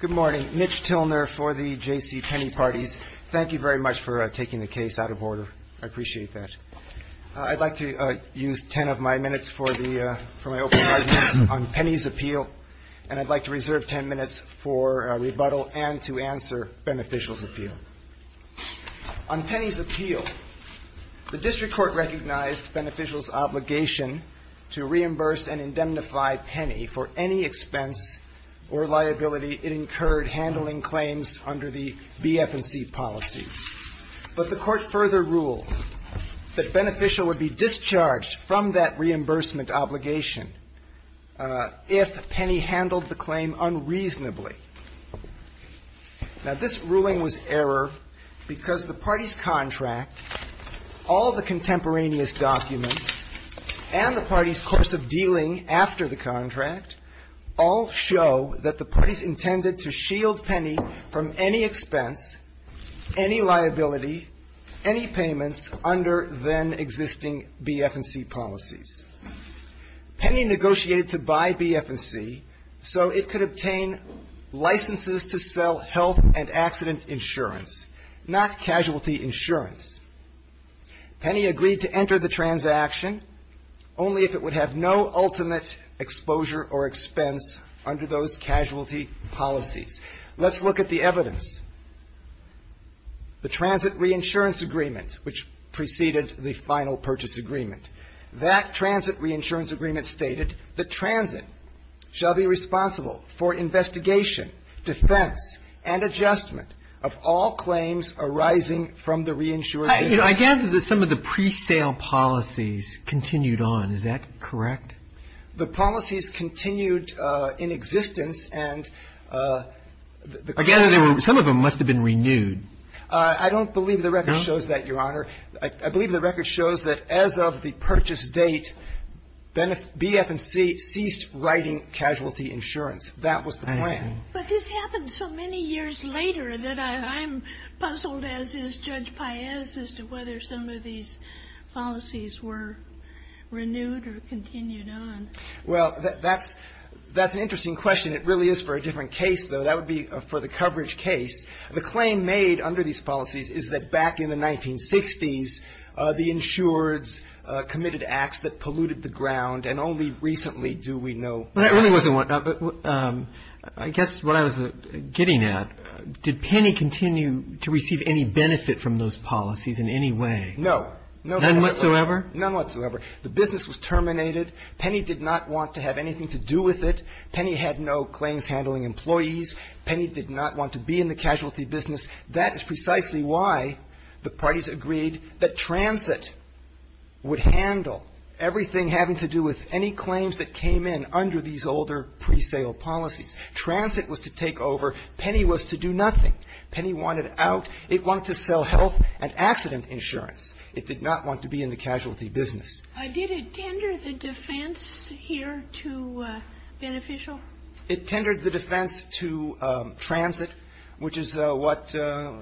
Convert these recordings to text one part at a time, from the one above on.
Good morning. Mitch Tilner for the J.C. Penney Parties. Thank you very much for taking the case out of order. I appreciate that. I'd like to use ten of my minutes for my opening arguments on Penney's appeal, and I'd like to reserve ten minutes for rebuttal and to answer Beneficial's appeal. On Penney's appeal, the District Court recognized Beneficial's obligation to reimburse and indemnify Penney for any expense or liability it incurred handling claims under the B, F, and C policies. But the Court further ruled that Beneficial would be discharged from that reimbursement obligation if Penney handled the claim unreasonably. Now, this ruling was error because the Party's contract, all the contemporaneous documents, and the Party's course of dealing after the contract all show that the Party's intended to shield Penney from any expense, any liability, any payments under then-existing B, F, and C policies. Penney negotiated to buy B, F, and C so it could obtain licenses to sell health and accident insurance, not casualty insurance. Penney agreed to enter the transaction only if it would have no ultimate exposure or expense under those casualty policies. Let's look at the evidence. The Transit Reinsurance Agreement, which preceded the Final Purchase Agreement. That Transit Reinsurance Agreement stated that transit shall be responsible for investigation, defense, and adjustment of all claims arising from the reinsurance agreement. I gather that some of the pre-sale policies continued on. Is that correct? The policies continued in existence, and the claims were renewed. I gather some of them must have been renewed. I don't believe the record shows that, Your Honor. I believe the record shows that as of the purchase date, B, F, and C ceased writing casualty insurance. That was the plan. But this happened so many years later that I'm puzzled, as is Judge Paez, as to whether some of these policies were renewed or continued on. Well, that's an interesting question. It really is for a different case, though. That would be for the coverage case. The claim made under these policies is that back in the 1960s, the insureds committed acts that polluted the ground, and only recently do we know. Well, that really wasn't one. I guess what I was getting at, did Penny continue to receive any benefit from those policies in any way? No. None whatsoever? None whatsoever. The business was terminated. Penny did not want to have anything to do with it. Penny had no claims-handling employees. Penny did not want to be in the casualty business. That is precisely why the parties agreed that transit would handle everything having to do with any claims that came in under these older presale policies. Transit was to take over. Penny was to do nothing. Penny wanted out. It wanted to sell health and accident insurance. It did not want to be in the casualty business. Did it tender the defense here to Beneficial? It tendered the defense to transit, which is what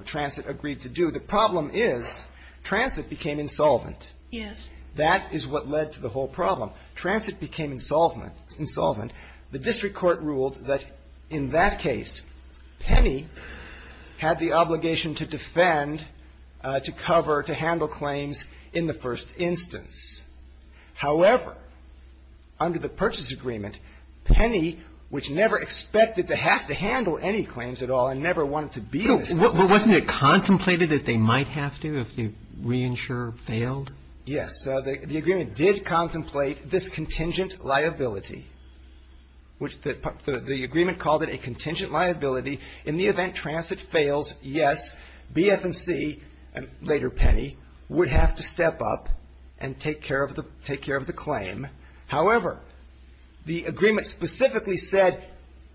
transit agreed to do. The problem is transit became insolvent. Yes. That is what led to the whole problem. Transit became insolvent. The district court ruled that in that case, Penny had the obligation to defend, to cover, to handle claims in the first instance. However, under the purchase agreement, Penny, which never expected to have to handle any claims at all and never wanted to be in the business. But wasn't it contemplated that they might have to if the reinsurer failed? Yes. The agreement did contemplate this contingent liability, which the agreement called it a contingent liability in the event transit fails, yes, BF&C, and later Penny, would have to step up and take care of the claim. However, the agreement specifically said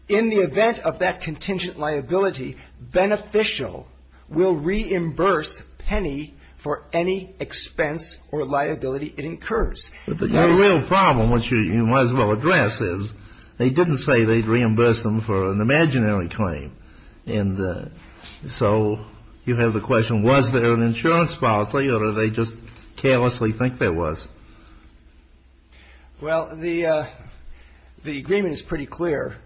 in the event of that contingent liability, Beneficial will reimburse Penny for any expense or liability it incurs. But the real problem, which you might as well address, is they didn't say they'd reimburse them for an imaginary claim. And so you have the question, was there an insurance policy or did they just carelessly think there was? Well, the agreement is pretty clear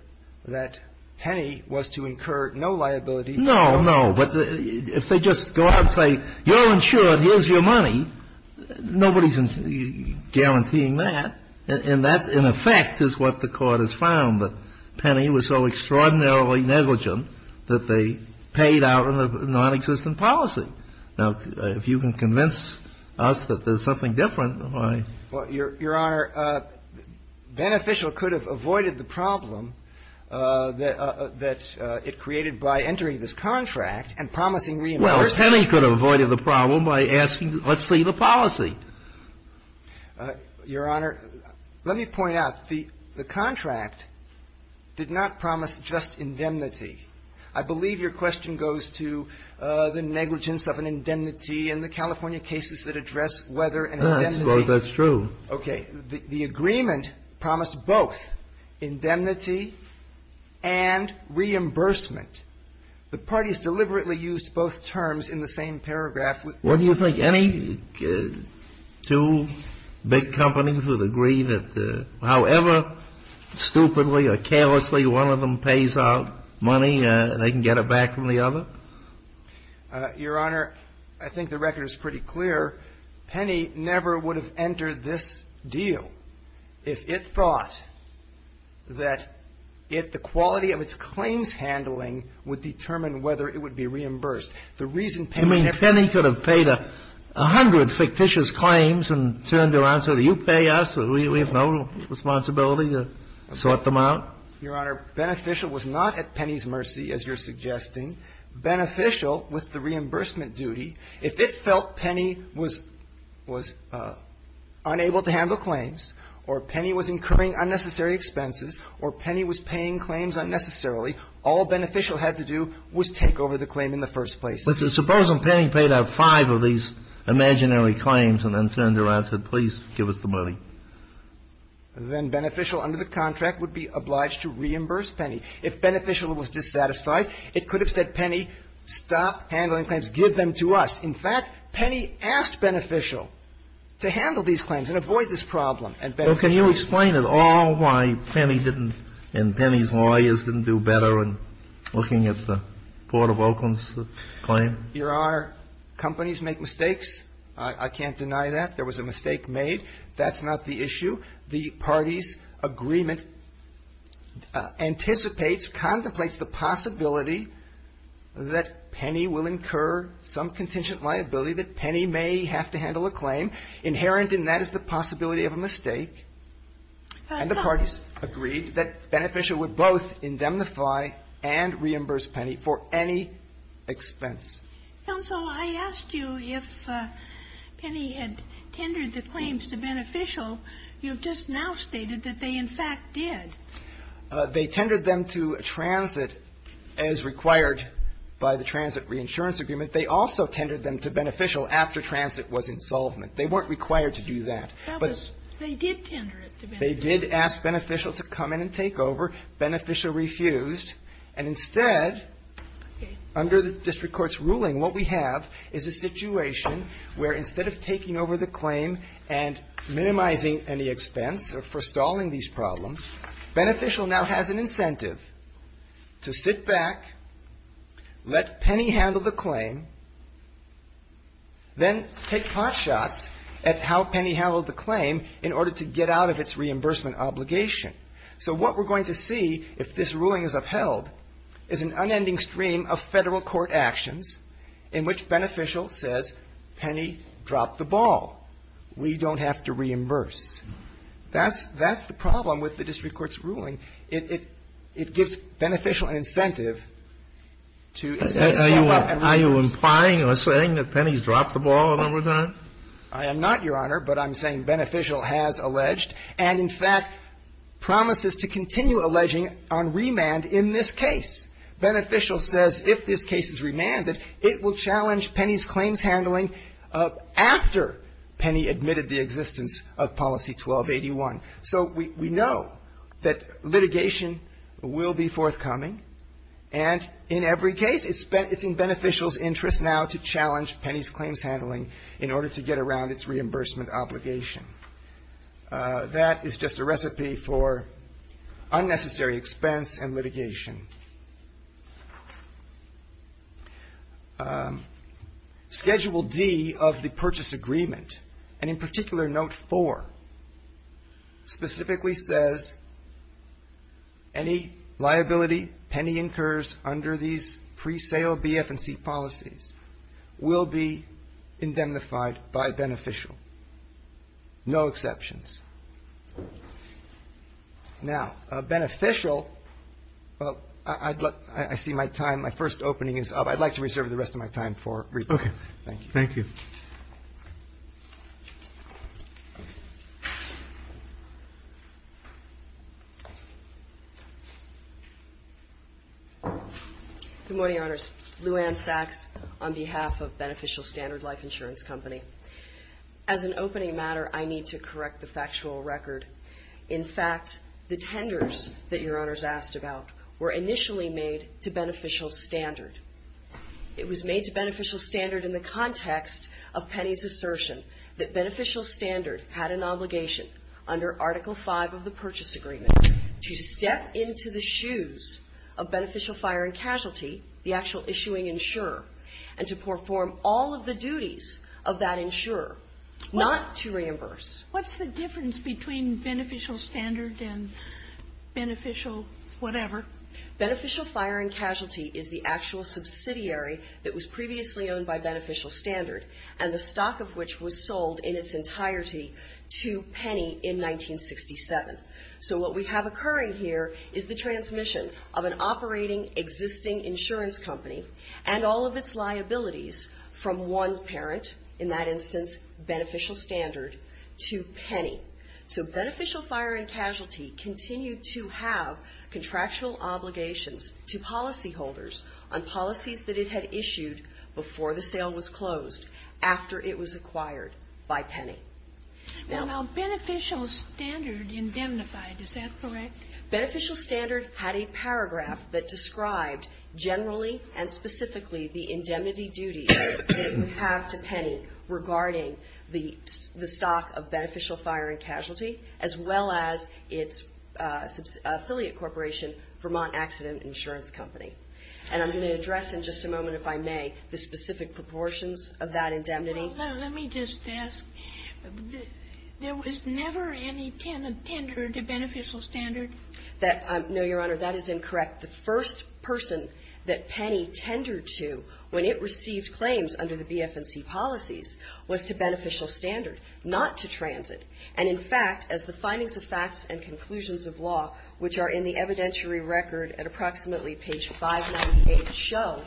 that Penny was to incur no liability. No, no. But if they just go out and say, you're insured, here's your money, nobody's guaranteeing that. And that, in effect, is what the Court has found, that Penny was so extraordinarily negligent that they paid out a nonexistent policy. Now, if you can convince us that there's something different, why? Well, Your Honor, Beneficial could have avoided the problem that it created by entering this contract and promising reimbursement. Well, Penny could have avoided the problem by asking, let's see the policy. Your Honor, let me point out, the contract did not promise just indemnity. I believe your question goes to the negligence of an indemnity and the California cases that address whether an indemnity. I suppose that's true. Okay. The agreement promised both indemnity and reimbursement. The parties deliberately used both terms in the same paragraph. What do you think? Any two big companies would agree that however stupidly or carelessly one of them pays out money, they can get it back from the other? Your Honor, I think the record is pretty clear. Penny never would have entered this deal if it thought that it, the quality of its claims handling, would determine whether it would be reimbursed. The reason Penny never would have entered this deal. You mean Penny could have paid a hundred fictitious claims and turned around and said, you pay us, we have no responsibility to sort them out? Your Honor, Beneficial was not at Penny's mercy, as you're suggesting. Beneficial, with the reimbursement duty, if it felt Penny was unable to handle claims or Penny was incurring unnecessary expenses or Penny was paying claims unnecessarily, all Beneficial had to do was take over the claim in the first place. But suppose if Penny paid out five of these imaginary claims and then turned around and said, please give us the money? Then Beneficial under the contract would be obliged to reimburse Penny. If Beneficial was dissatisfied, it could have said, Penny, stop handling claims, give them to us. In fact, Penny asked Beneficial to handle these claims and avoid this problem, and Beneficial did. Well, can you explain at all why Penny didn't, and Penny's lawyers didn't do better in looking at the Court of Oakland's claim? Your Honor, companies make mistakes. I can't deny that. There was a mistake made. That's not the issue. The parties' agreement anticipates, contemplates the possibility that Penny will incur some contingent liability, that Penny may have to handle a claim. Inherent in that is the possibility of a mistake, and the parties agreed that Beneficial would both indemnify and reimburse Penny for any expense. Counsel, I asked you if Penny had tendered the claims to Beneficial. You've just now stated that they, in fact, did. They tendered them to Transit as required by the Transit Reinsurance Agreement. They also tendered them to Beneficial after Transit was insolvent. They weren't required to do that. That was they did tender it to Beneficial. They did ask Beneficial to come in and take over. Beneficial refused. And instead, under the district court's ruling, what we have is a situation where instead of taking over the claim and minimizing any expense for stalling these problems, Beneficial now has an incentive to sit back, let Penny handle the claim, then take hot shots at how Penny handled the claim in order to get out of its reimbursement obligation. So what we're going to see, if this ruling is upheld, is an unending stream of Federal court actions in which Beneficial says, Penny dropped the ball. We don't have to reimburse. That's the problem with the district court's ruling. It gives Beneficial an incentive to step up and reimburse. Are you implying or saying that Penny's dropped the ball a number of times? I am not, Your Honor, but I'm saying Beneficial has alleged. And, in fact, promises to continue alleging on remand in this case. Beneficial says if this case is remanded, it will challenge Penny's claims handling after Penny admitted the existence of Policy 1281. So we know that litigation will be forthcoming. And in every case, it's in Beneficial's interest now to challenge Penny's claims handling in order to get around its reimbursement obligation. That is just a recipe for unnecessary expense and litigation. Schedule D of the purchase agreement, and in particular, Note 4, specifically says any liability Penny incurs under these presale BF&C policies will be indemnified by Beneficial. No exceptions. Now, Beneficial, well, I see my time, my first opening is up. I'd like to reserve the rest of my time for rebuttal. Thank you. Thank you. Good morning, Your Honors. Lou Anne Sachs on behalf of Beneficial Standard Life Insurance Company. As an opening matter, I need to correct the factual record. In fact, the tenders that Your Honors asked about were initially made to Beneficial Standard. It was made to Beneficial Standard in the context of Penny's assertion that Beneficial Standard had an obligation under Article V of the purchase agreement to step into the shoes of Beneficial Fire and Casualty, the actual issuing insurer, and to perform all of the duties of that insurer, not to reimburse. What's the difference between Beneficial Standard and Beneficial whatever? Beneficial Fire and Casualty is the actual subsidiary that was previously owned by Beneficial Standard, and the stock of which was sold in its entirety to Penny in 1967. So what we have occurring here is the transmission of an operating, existing insurance company and all of its liabilities from one parent, in that instance Beneficial Standard, to Penny. So Beneficial Fire and Casualty continued to have contractual obligations to policyholders on policies that it had issued before the sale was closed, after it was acquired by Penny. Now Beneficial Standard indemnified. Is that correct? Beneficial Standard had a paragraph that described generally and specifically the indemnity duties that it would have to Penny regarding the stock of Beneficial Fire and Casualty, as well as its affiliate corporation, Vermont Accident Insurance Company. And I'm going to address in just a moment, if I may, the specific proportions of that indemnity. Let me just ask. There was never any tender to Beneficial Standard? No, Your Honor. That is incorrect. The first person that Penny tendered to when it received claims under the BF&C policies was to Beneficial Standard, not to Transit. And in fact, as the findings of facts and conclusions of law, which are in the evidentiary record at approximately page 598 show,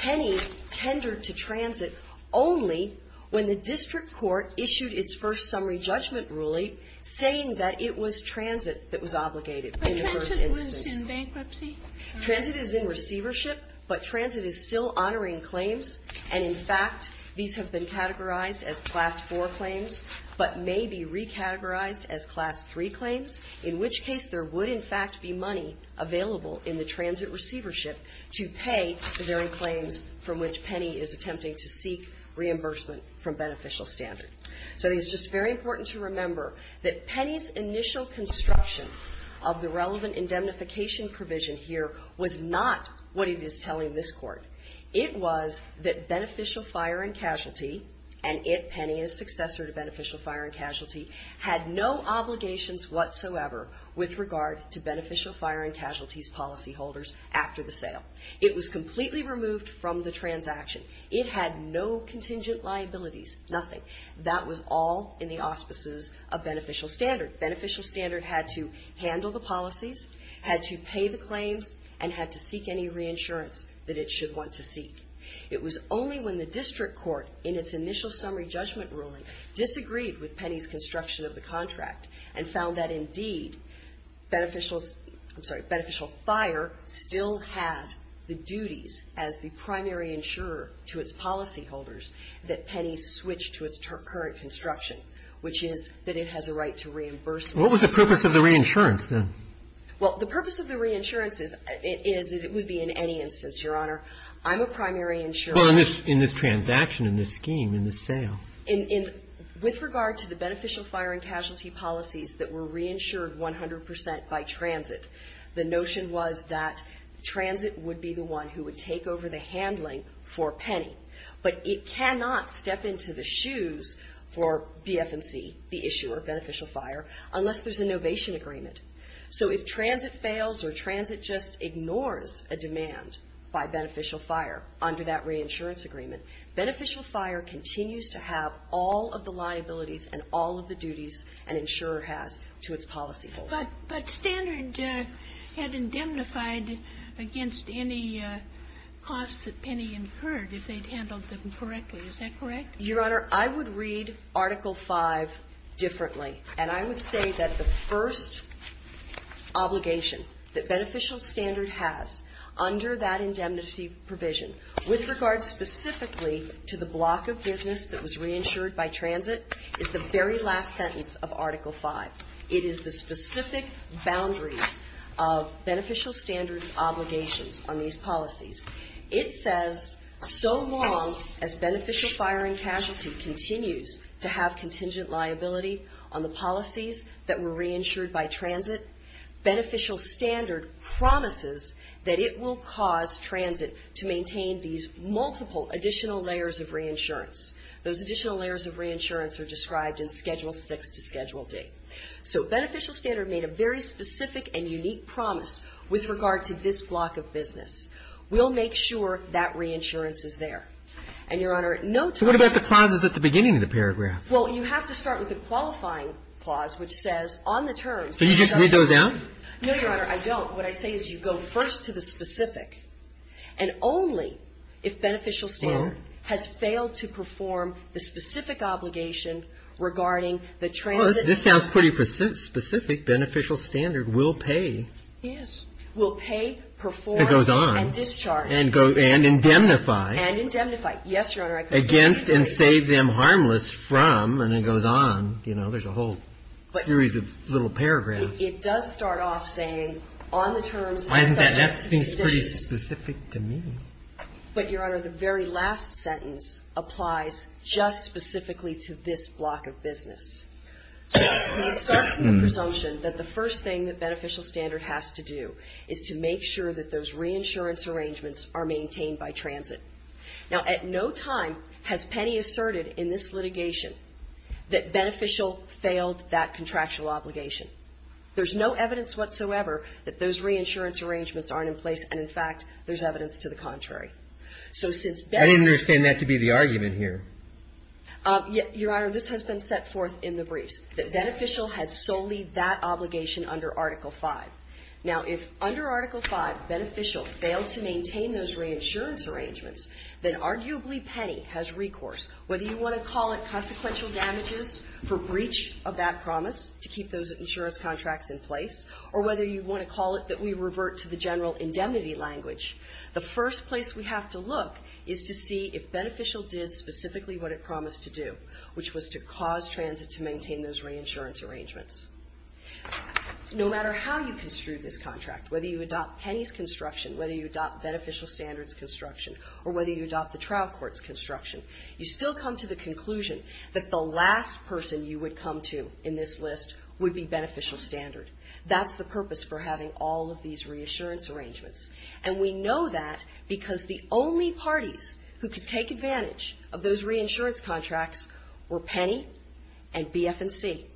Penny tendered to Transit only when the district court issued its first summary judgment ruling saying that it was Transit that was obligated in the first instance. But Transit was in bankruptcy? Transit is in receivership, but Transit is still honoring claims. And in fact, these have been categorized as Class IV claims, but may be recategorized as Class III claims, in which case there would, in fact, be money available in the Transit receivership to pay the very claims from which Penny is attempting to seek reimbursement from Beneficial Standard. So it's just very important to remember that Penny's initial construction of the relevant indemnification provision here was not what it is telling this Court. It was that Beneficial Fire and Casualty, and it, Penny, is successor to Beneficial Standard, had no obligations whatsoever with regard to Beneficial Fire and Casualty's policyholders after the sale. It was completely removed from the transaction. It had no contingent liabilities, nothing. That was all in the auspices of Beneficial Standard. Beneficial Standard had to handle the policies, had to pay the claims, and had to seek any reinsurance that it should want to seek. It was only when the district court, in its initial summary judgment ruling, disagreed with Penny's construction of the contract and found that, indeed, Beneficial Standard, I'm sorry, Beneficial Fire still had the duties as the primary insurer to its policyholders that Penny switch to its current construction, which is that it has a right to reimbursement. What was the purpose of the reinsurance, then? Well, the purpose of the reinsurance is, it is, it would be in any instance, Your Honor. I'm a primary insurer. Well, in this transaction, in this scheme, in this sale. With regard to the Beneficial Fire and Casualty policies that were reinsured 100 percent by Transit, the notion was that Transit would be the one who would take over the handling for Penny. But it cannot step into the shoes for BFMC, the issuer, Beneficial Fire, unless there's an ovation agreement. So if Transit fails or Transit just ignores a demand by Beneficial Fire under that insurance agreement, Beneficial Fire continues to have all of the liabilities and all of the duties an insurer has to its policyholders. But Standard had indemnified against any costs that Penny incurred if they'd handled them correctly. Is that correct? Your Honor, I would read Article V differently. And I would say that the first obligation that Beneficial Standard has under that to the block of business that was reinsured by Transit is the very last sentence of Article V. It is the specific boundaries of Beneficial Standard's obligations on these policies. It says so long as Beneficial Fire and Casualty continues to have contingent liability on the policies that were reinsured by Transit, Beneficial Standard promises that it will cause Transit to maintain these multiple additional layers of reinsurance. Those additional layers of reinsurance are described in Schedule VI to Schedule D. So Beneficial Standard made a very specific and unique promise with regard to this block of business. We'll make sure that reinsurance is there. And, Your Honor, no time at the beginning of the paragraph. Well, you have to start with the qualifying clause, which says on the terms. So you just read those out? No, Your Honor, I don't. What I say is you go first to the specific. And only if Beneficial Standard has failed to perform the specific obligation regarding the Transit. Well, this sounds pretty specific. Beneficial Standard will pay. Will pay, perform, and discharge. It goes on. And indemnify. And indemnify. Yes, Your Honor. Against and save them harmless from, and it goes on. You know, there's a whole series of little paragraphs. It does start off saying on the terms. Why isn't that? That seems pretty specific to me. But, Your Honor, the very last sentence applies just specifically to this block of business. So we start with the presumption that the first thing that Beneficial Standard has to do is to make sure that those reinsurance arrangements are maintained by Transit. Now, at no time has Penny asserted in this litigation that Beneficial failed that contractual obligation. There's no evidence whatsoever that those reinsurance arrangements aren't in place. And, in fact, there's evidence to the contrary. So since Beneficial ---- I didn't understand that to be the argument here. Your Honor, this has been set forth in the briefs, that Beneficial had solely that obligation under Article V. Now, if under Article V Beneficial failed to maintain those reinsurance arrangements, then arguably Penny has recourse, whether you want to call it consequential damages for breach of that promise to keep those insurance contracts in place, or whether you want to call it that we revert to the general indemnity language, the first place we have to look is to see if Beneficial did specifically what it promised to do, which was to cause Transit to maintain those reinsurance arrangements. No matter how you construe this contract, whether you adopt Penny's construction, whether you adopt Beneficial Standard's construction, or whether you adopt the trial court's construction, you still come to the conclusion that the last person you would come to in this list would be Beneficial Standard. That's the purpose for having all of these reinsurance arrangements. And we know that because the only parties who could take advantage of those reinsurance contracts were Penny and BF&C.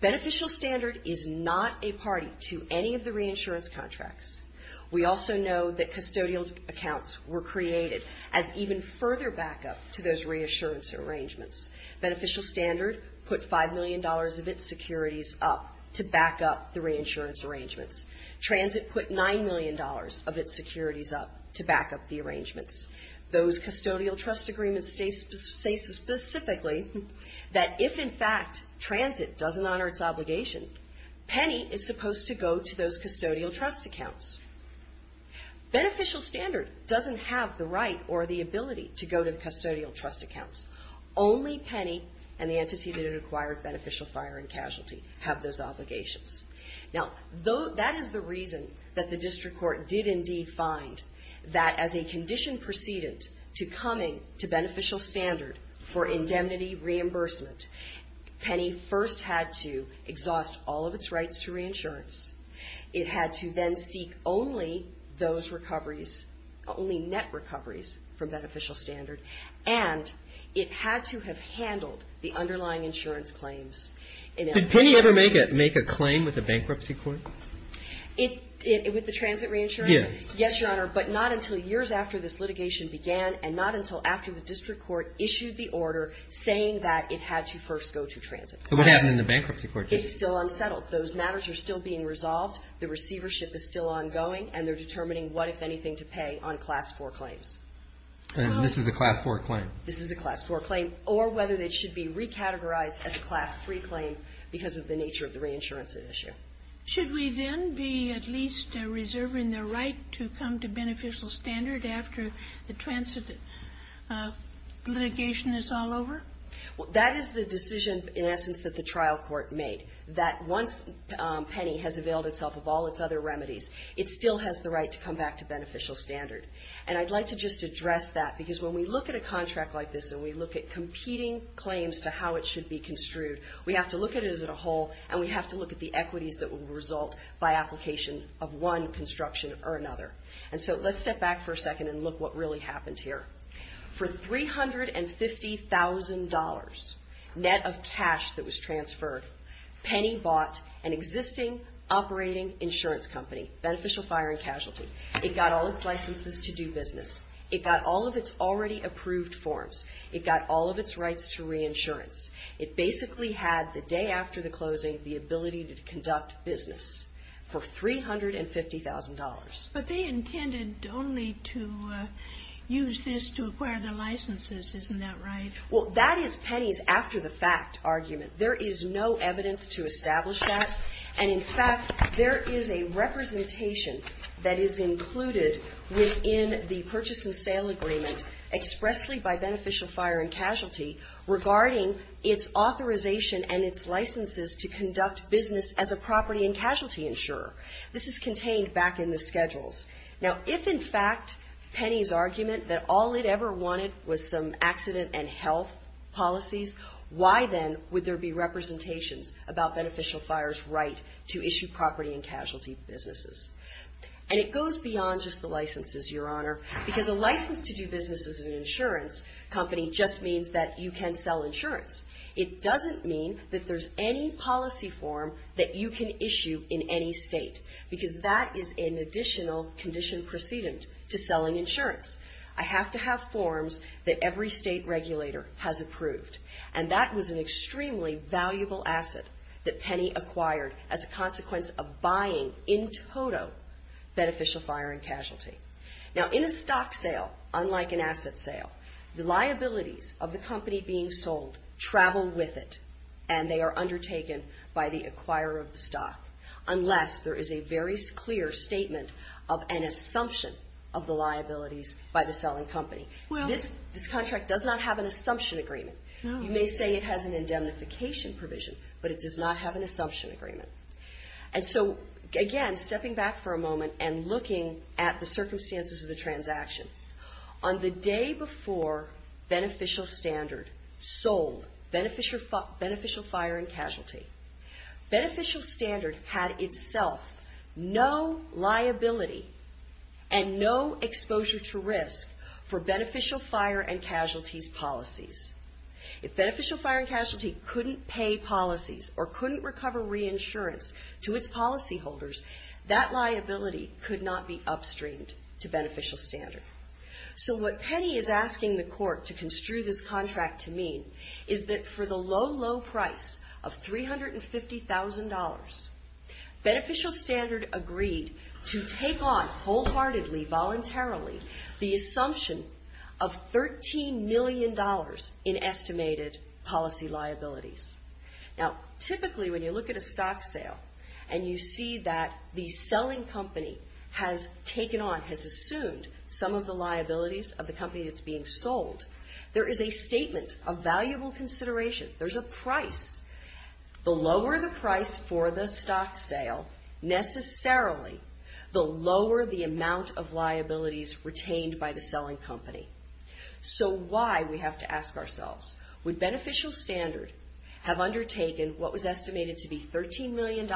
Beneficial Standard is not a party to any of the reinsurance contracts. We also know that custodial accounts were created as even further backup to those reinsurance arrangements. Beneficial Standard put $5 million of its securities up to backup the reinsurance arrangements. Transit put $9 million of its securities up to backup the arrangements. Those custodial trust agreements say specifically that if in fact Transit doesn't honor its obligation, Penny is supposed to go to those custodial trust accounts. Beneficial Standard doesn't have the right or the ability to go to the custodial trust accounts. Only Penny and the entity that had acquired Beneficial Fire and Casualty have those obligations. Now, that is the reason that the district court did indeed find that as a condition precedent to coming to Beneficial Standard for indemnity reimbursement, Penny first had to exhaust all of its rights to reinsurance. It had to then seek only those recoveries, only net recoveries from Beneficial Standard. And it had to have handled the underlying insurance claims. Did Penny ever make a claim with the bankruptcy court? With the Transit reinsurance? Yes. Yes, Your Honor. But not until years after this litigation began and not until after the district court issued the order saying that it had to first go to Transit. So what happened in the bankruptcy court case? It's still unsettled. Those matters are still being resolved. The receivership is still ongoing. And they're determining what, if anything, to pay on Class IV claims. And this is a Class IV claim? This is a Class IV claim, or whether it should be recategorized as a Class III claim because of the nature of the reinsurance issue. Should we then be at least reserving the right to come to Beneficial Standard after the Transit litigation is all over? That is the decision, in essence, that the trial court made, that once Penny has availed itself of all its other remedies, it still has the right to come back to Beneficial Standard. And I'd like to just address that because when we look at a contract like this and we look at competing claims to how it should be construed, we have to look at it as a whole and we have to look at the equities that will result by application of one construction or another. And so let's step back for a second and look what really happened here. For $350,000 net of cash that was transferred, Penny bought an existing operating insurance company, Beneficial Fire and Casualty. It got all its licenses to do business. It got all of its already approved forms. It got all of its rights to reinsurance. It basically had the day after the closing the ability to conduct business for $350,000. But they intended only to use this to acquire the licenses. Isn't that right? Well, that is Penny's after-the-fact argument. There is no evidence to establish that. And, in fact, there is a representation that is included within the purchase and sale agreement expressly by Beneficial Fire and Casualty regarding its authorization and its licenses to conduct business as a property and casualty insurer. This is contained back in the schedules. Now, if, in fact, Penny's argument that all it ever wanted was some accident and health policies, why then would there be representations about Beneficial Fire's right to issue property and casualty businesses? And it goes beyond just the licenses, Your Honor. Because a license to do business as an insurance company just means that you can sell insurance. It doesn't mean that there's any policy form that you can issue in any state, because that is an additional condition precedent to selling insurance. I have to have forms that every state regulator has approved. And that was an extremely valuable asset that Penny acquired as a consequence of buying, in total, Beneficial Fire and Casualty. Now, in a stock sale, unlike an asset sale, the liabilities of the company being sold travel with it, and they are undertaken by the acquirer of the stock, unless there is a very clear statement of an assumption of the liabilities by the selling company. This contract does not have an assumption agreement. You may say it has an indemnification provision, but it does not have an assumption agreement. And so, again, stepping back for a moment and looking at the circumstances of the transaction. On the day before Beneficial Standard sold Beneficial Fire and Casualty, Beneficial Standard had itself no liability and no exposure to risk for Beneficial Fire and Casualty's policies. If Beneficial Fire and Casualty couldn't pay policies or couldn't recover reinsurance to its policyholders, that liability could not be upstreamed to Beneficial Standard. So what Penny is asking the court to construe this contract to mean is that for the low, low price of $350,000, Beneficial Standard agreed to take on wholeheartedly, voluntarily, the assumption of $13 million in estimated policy liabilities. Now, typically, when you look at a stock sale and you see that the selling company has taken on, has assumed some of the liabilities of the company that's being sold, there is a statement of valuable consideration. There's a price. The lower the price for the stock sale, necessarily, the lower the amount of liabilities retained by the selling company. So why, we have to ask ourselves, would Beneficial Standard have undertaken what was estimated to be $13 million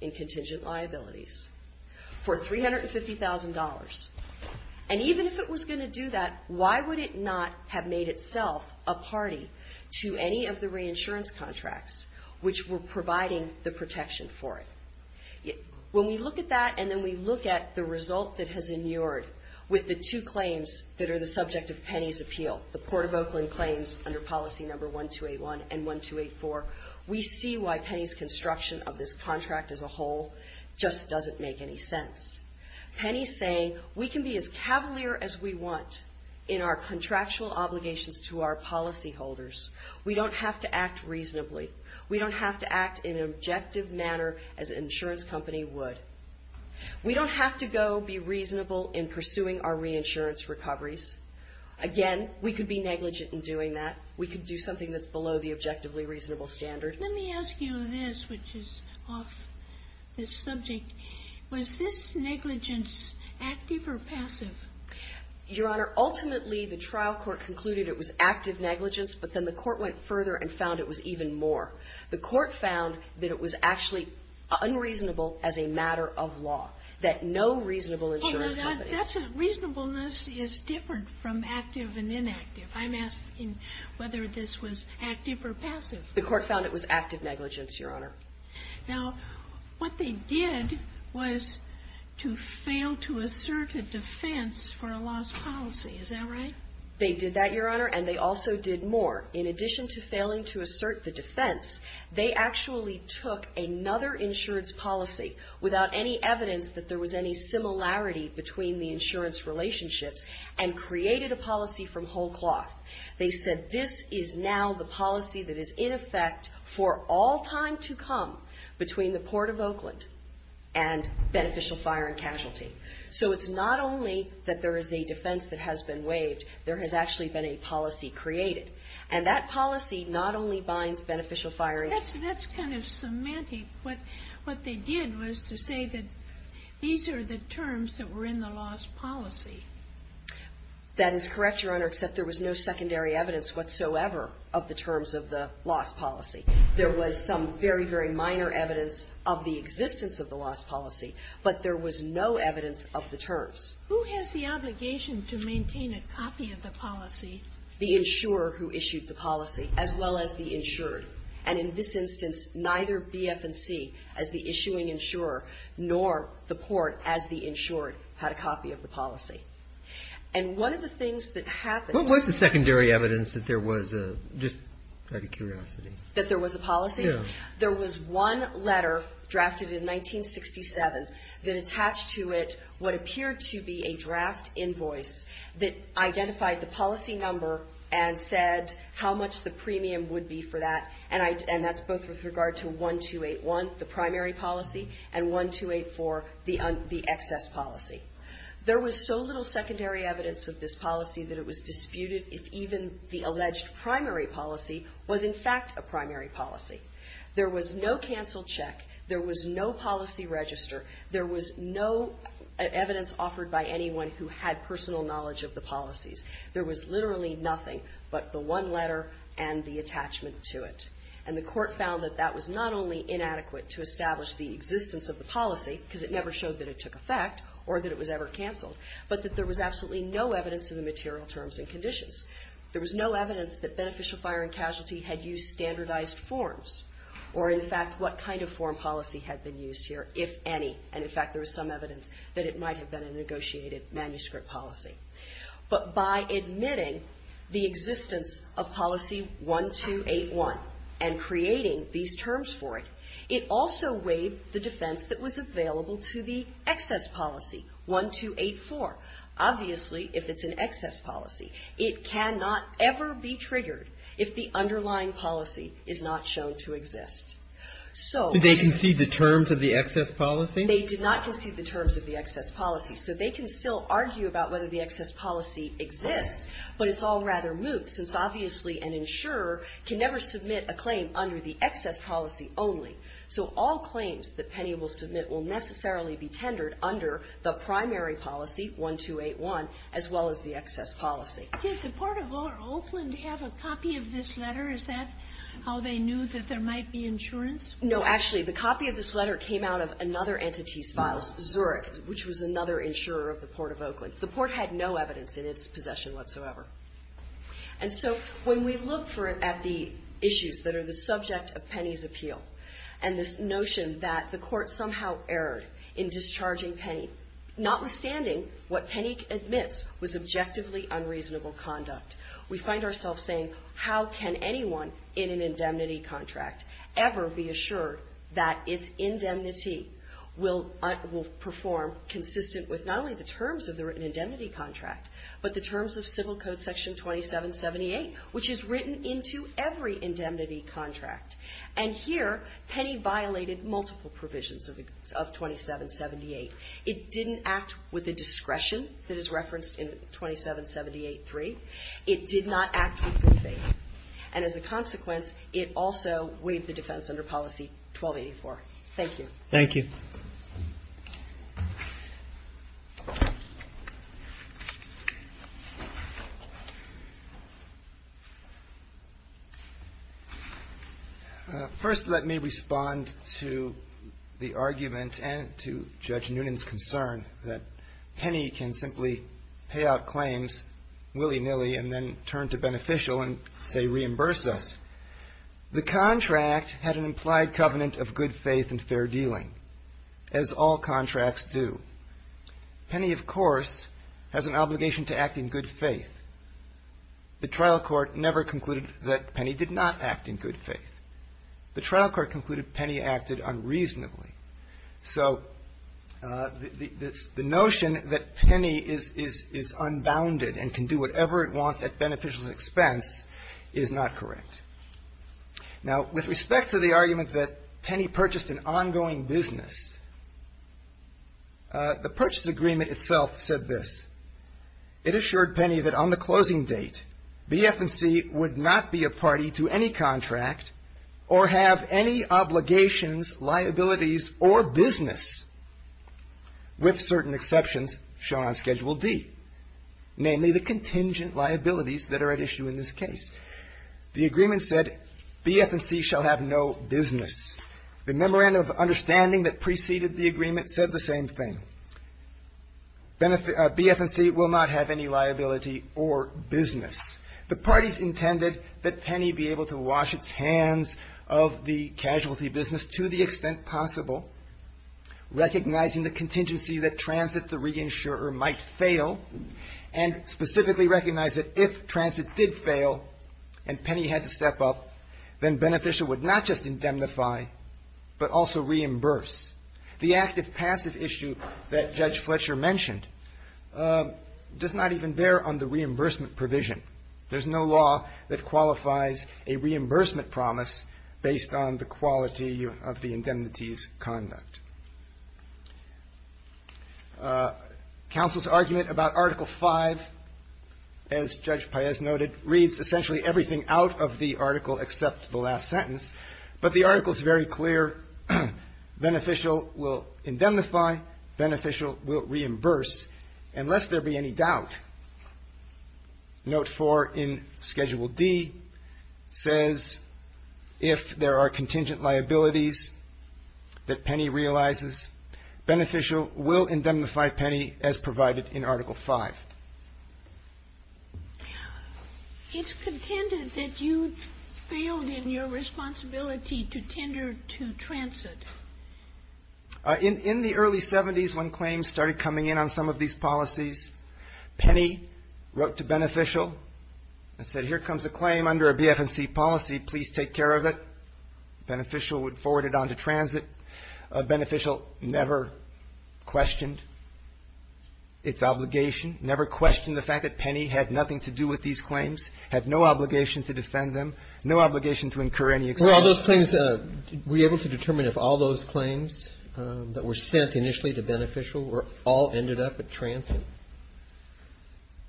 in contingent liabilities for $350,000? And even if it was going to do that, why would it not have made itself a party to any of the reinsurance contracts which were providing the protection for it? When we look at that and then we look at the result that has inured with the two claims that are the subject of Penny's appeal, the Port of Oakland claims under policy number 1281 and 1284, we see why Penny's construction of this contract as a whole just doesn't make any sense. Penny's saying we can be as cavalier as we want in our contractual obligations to our policyholders. We don't have to act reasonably. We don't have to act in an objective manner as an insurance company would. We don't have to go be reasonable in pursuing our reinsurance recoveries. Again, we could be negligent in doing that. We could do something that's below the objectively reasonable standard. Let me ask you this, which is off this subject. Was this negligence active or passive? Your Honor, ultimately, the trial court concluded it was active negligence, but then the court went further and found it was even more. The court found that it was actually unreasonable as a matter of law, that no reasonable insurance company. That's a reasonableness is different from active and inactive. I'm asking whether this was active or passive. The court found it was active negligence, Your Honor. Now, what they did was to fail to assert a defense for a lost policy. Is that right? They did that, Your Honor, and they also did more. In addition to failing to assert the defense, they actually took another insurance policy without any evidence that there was any similarity between the insurance relationships and created a policy from whole cloth. They said this is now the policy that is in effect for all time to come between the Port of Oakland and beneficial fire and casualty. So it's not only that there is a defense that has been waived, there has actually been a policy created. And that policy not only binds beneficial fire and casualty. That's kind of semantic. What they did was to say that these are the terms that were in the lost policy. That is correct, Your Honor, except there was no secondary evidence whatsoever of the terms of the lost policy. There was some very, very minor evidence of the existence of the lost policy, but there was no evidence of the terms. Who has the obligation to maintain a copy of the policy? The insurer who issued the policy, as well as the insured. And in this instance, neither BF&C, as the issuing insurer, nor the Port, as the insured, had a copy of the policy. And one of the things that happened was the secondary evidence that there was a, just out of curiosity. That there was a policy? Yes. There was one letter, drafted in 1967, that attached to it what appeared to be a draft invoice that identified the policy number and said how much the premium would be for that. And that's both with regard to 1281, the primary policy, and 1284, the excess policy. There was so little secondary evidence of this policy that it was disputed if even the alleged primary policy was, in fact, a primary policy. There was no canceled check. There was no policy register. There was no evidence offered by anyone who had personal knowledge of the policies. There was literally nothing but the one letter and the attachment to it. And the Court found that that was not only inadequate to establish the existence of the policy, because it never showed that it took effect or that it was ever canceled, but that there was absolutely no evidence of the material terms and conditions. There was no evidence that beneficial fire and casualty had used standardized forms or, in fact, what kind of form policy had been used here, if any. And, in fact, there was some evidence that it might have been a negotiated manuscript policy. But by admitting the existence of policy 1281 and creating these terms for it, it also waived the defense that was available to the excess policy, 1284, obviously if it's an excess policy. It cannot ever be triggered if the underlying policy is not shown to exist. So they concede the terms of the excess policy? They did not concede the terms of the excess policy. So they can still argue about whether the excess policy exists, but it's all rather moot, since obviously an insurer can never submit a claim under the excess policy only. So all claims that Penny will submit will necessarily be tendered under the primary policy, 1281, as well as the excess policy. Did the Port of Oakland have a copy of this letter? Is that how they knew that there might be insurance? No. Actually, the copy of this letter came out of another entity's files, Zurich, which was another insurer of the Port of Oakland. The Port had no evidence in its possession whatsoever. And so when we look for it at the issues that are the subject of Penny's appeal and this notion that the Court somehow erred in discharging Penny, notwithstanding what Penny admits was objectively unreasonable conduct, we find ourselves saying how can anyone in an indemnity contract ever be assured that its indemnity will perform consistent with not only the terms of the written indemnity contract, but the terms of Civil Code Section 2778, which is written into every indemnity contract. And here, Penny violated multiple provisions of 2778. It didn't act with the discretion that is referenced in 2778-3. It did not act with good faith. And as a consequence, it also waived the defense under policy 1284. Thank you. Thank you. First, let me respond to the argument and to Judge Noonan's concern that Penny can simply pay out claims willy-nilly and then turn to Beneficial and, say, reimburse us. The contract had an implied covenant of good faith and fair dealing. It did not act with good faith. As all contracts do. Penny, of course, has an obligation to act in good faith. The trial court never concluded that Penny did not act in good faith. The trial court concluded Penny acted unreasonably. So the notion that Penny is unbounded and can do whatever it wants at Beneficial's expense is not correct. Now, with respect to the argument that Penny purchased an ongoing business, the purchase agreement itself said this. It assured Penny that on the closing date, BF&C would not be a party to any contract or have any obligations, liabilities, or business, with certain exceptions shown on Schedule D, namely the contingent liabilities that are at issue in this case. The agreement said BF&C shall have no business. The memorandum of understanding that preceded the agreement said the same thing. BF&C will not have any liability or business. The parties intended that Penny be able to wash its hands of the casualty business to the extent possible, recognizing the contingency that transit the reinsurer might fail, and specifically recognize that if transit did fail and Penny had to step up, then Beneficial would not just indemnify but also reimburse. The active-passive issue that Judge Fletcher mentioned does not even bear on the reimbursement provision. There's no law that qualifies a reimbursement promise based on the quality of the indemnity's conduct. Counsel's argument about Article V, as Judge Paez noted, reads essentially everything out of the article except the last sentence. But the article is very clear. Beneficial will indemnify. Beneficial will reimburse. And lest there be any doubt, Note 4 in Schedule D says if there are contingent liabilities that Penny realizes, Beneficial will indemnify Penny as provided in Article V. It's contended that you failed in your responsibility to tender to transit. In the early 70s, when claims started coming in on some of these policies, Penny wrote to Beneficial and said, Here comes a claim under a BF&C policy. Please take care of it. Beneficial would forward it on to transit. Beneficial never questioned its obligation, never questioned the fact that Penny had nothing to do with these claims, had no obligation to defend them, no obligation to incur any expulsion. Were all those claims – were you able to determine if all those claims that were sent initially to Beneficial all ended up at transit?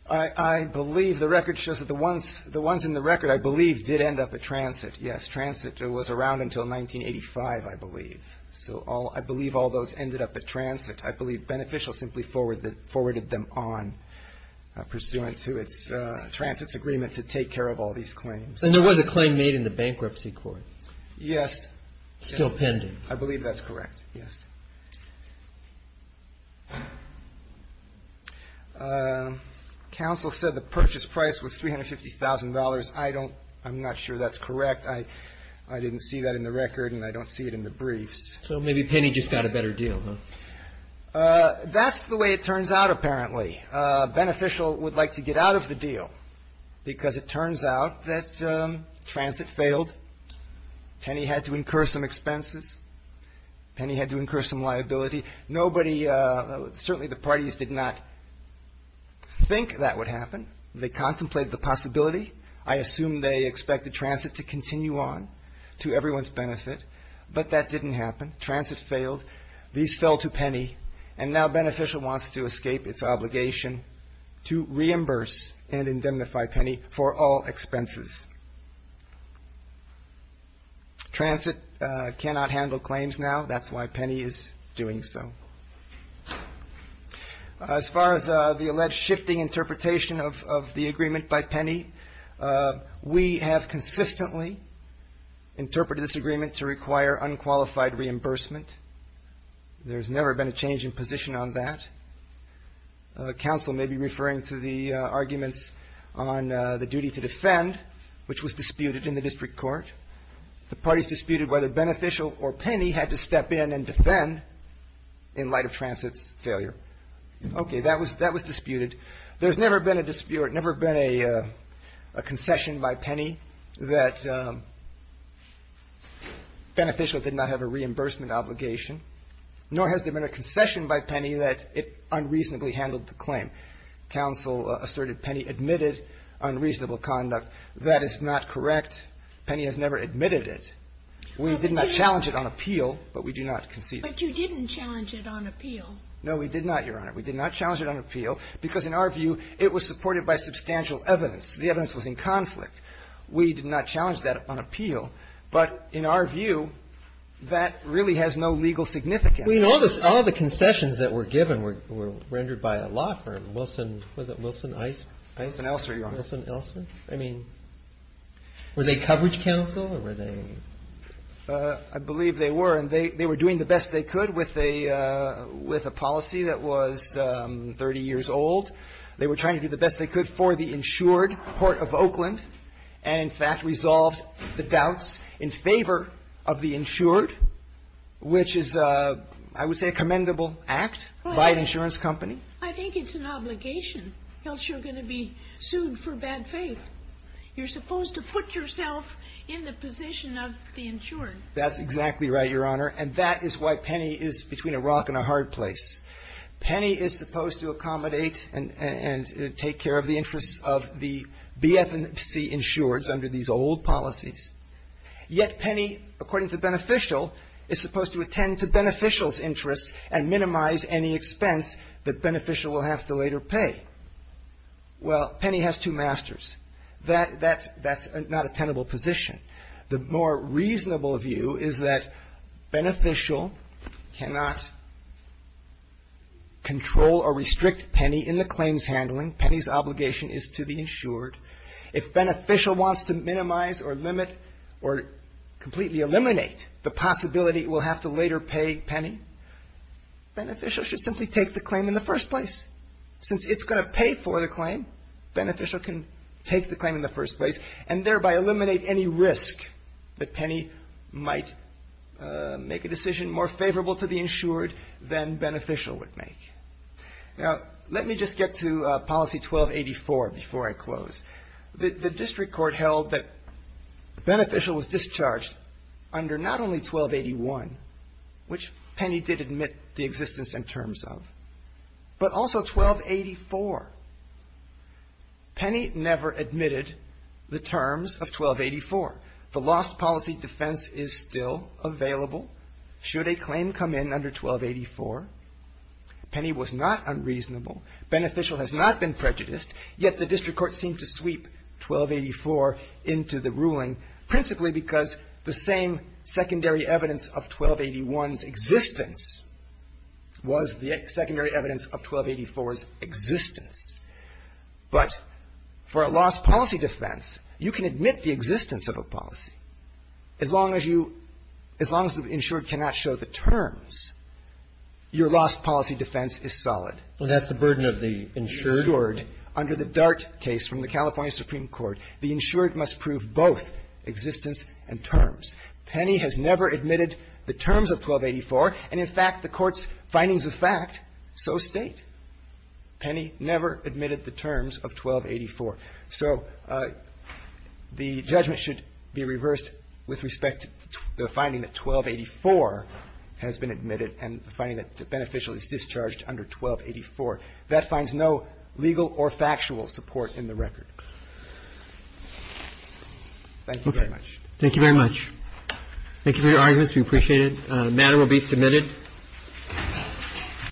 I believe the record shows that the ones – the ones in the record, I believe, did end up at transit. Yes, transit was around until 1985, I believe. So I believe all those ended up at transit. I believe Beneficial simply forwarded them on pursuant to its – transit's agreement to take care of all these claims. And there was a claim made in the bankruptcy court? Yes. Still pending. I believe that's correct. Yes. Counsel said the purchase price was $350,000. I don't – I'm not sure that's correct. I didn't see that in the record and I don't see it in the briefs. So maybe Penny just got a better deal, huh? That's the way it turns out, apparently. Beneficial would like to get out of the deal because it turns out that transit failed, Penny had to incur some expenses, Penny had to incur some liability. Nobody – certainly the parties did not think that would happen. They contemplated the possibility. I assume they expected transit to continue on to everyone's benefit. But that didn't happen. Transit failed. These fell to Penny. And now Beneficial wants to escape its obligation to reimburse and indemnify Penny for all expenses. Transit cannot handle claims now. That's why Penny is doing so. As far as the alleged shifting interpretation of the agreement by Penny, we have consistently interpreted this agreement to require unqualified reimbursement. There's never been a change in position on that. Counsel may be referring to the arguments on the duty to defend, which was disputed in the district court. The parties disputed whether Beneficial or Penny had to step in and defend in light of transit's failure. Okay. That was disputed. There's never been a dispute or never been a concession by Penny that Beneficial did not have a reimbursement obligation, nor has there been a concession by Penny that it unreasonably handled the claim. Counsel asserted Penny admitted unreasonable conduct. That is not correct. Penny has never admitted it. We did not challenge it on appeal, but we do not concede it. But you didn't challenge it on appeal. No, we did not, Your Honor. We did not challenge it on appeal because, in our view, it was supported by substantial evidence. The evidence was in conflict. We did not challenge that on appeal. But in our view, that really has no legal significance. Well, you know, all the concessions that were given were rendered by a law firm, Wilson. Was it Wilson, Ice? Wilson, Elsa, Your Honor. Wilson, Elsa? I mean, were they coverage counsel or were they? I believe they were. And they were doing the best they could with a policy that was 30 years old. They were trying to do the best they could for the insured Port of Oakland and, in fact, resolved the doubts in favor of the insured, which is, I would say, a commendable act by an insurance company. I think it's an obligation, else you're going to be sued for bad faith. You're supposed to put yourself in the position of the insured. That's exactly right, Your Honor. And that is why Penny is between a rock and a hard place. Penny is supposed to accommodate and take care of the interests of the BFC insureds under these old policies. Yet Penny, according to Beneficial, is supposed to attend to Beneficial's interests and minimize any expense that Beneficial will have to later pay. Well, Penny has two masters. That's not a tenable position. The more reasonable view is that Beneficial cannot control or restrict Penny in the claims handling. Penny's obligation is to the insured. If Beneficial wants to minimize or limit or completely eliminate the possibility it will have to later pay Penny, Beneficial should simply take the claim in the first place. Since it's going to pay for the claim, Beneficial can take the claim in the first place and thereby eliminate any risk that Penny might make a decision more favorable to the insured than Beneficial would make. Now, let me just get to policy 1284 before I close. The district court held that Beneficial was discharged under not only 1281, which was not unreasonable, but also 1284. Penny never admitted the terms of 1284. The lost policy defense is still available should a claim come in under 1284. Penny was not unreasonable. Beneficial has not been prejudiced, yet the district court seemed to sweep 1284 into the ruling, principally because the same secondary evidence of 1281's existence was the secondary evidence of 1284's existence. But for a lost policy defense, you can admit the existence of a policy. As long as you as long as the insured cannot show the terms, your lost policy defense is solid. Well, that's the burden of the insured. Under the Dart case from the California Supreme Court, the insured must prove both existence and terms. Penny has never admitted the terms of 1284. And in fact, the Court's findings of fact so state. Penny never admitted the terms of 1284. So the judgment should be reversed with respect to the finding that 1284 has been admitted and the finding that Beneficial is discharged under 1284. That finds no legal or factual support in the record. Thank you very much. Thank you very much. Thank you for your arguments. We appreciate it. The matter will be submitted.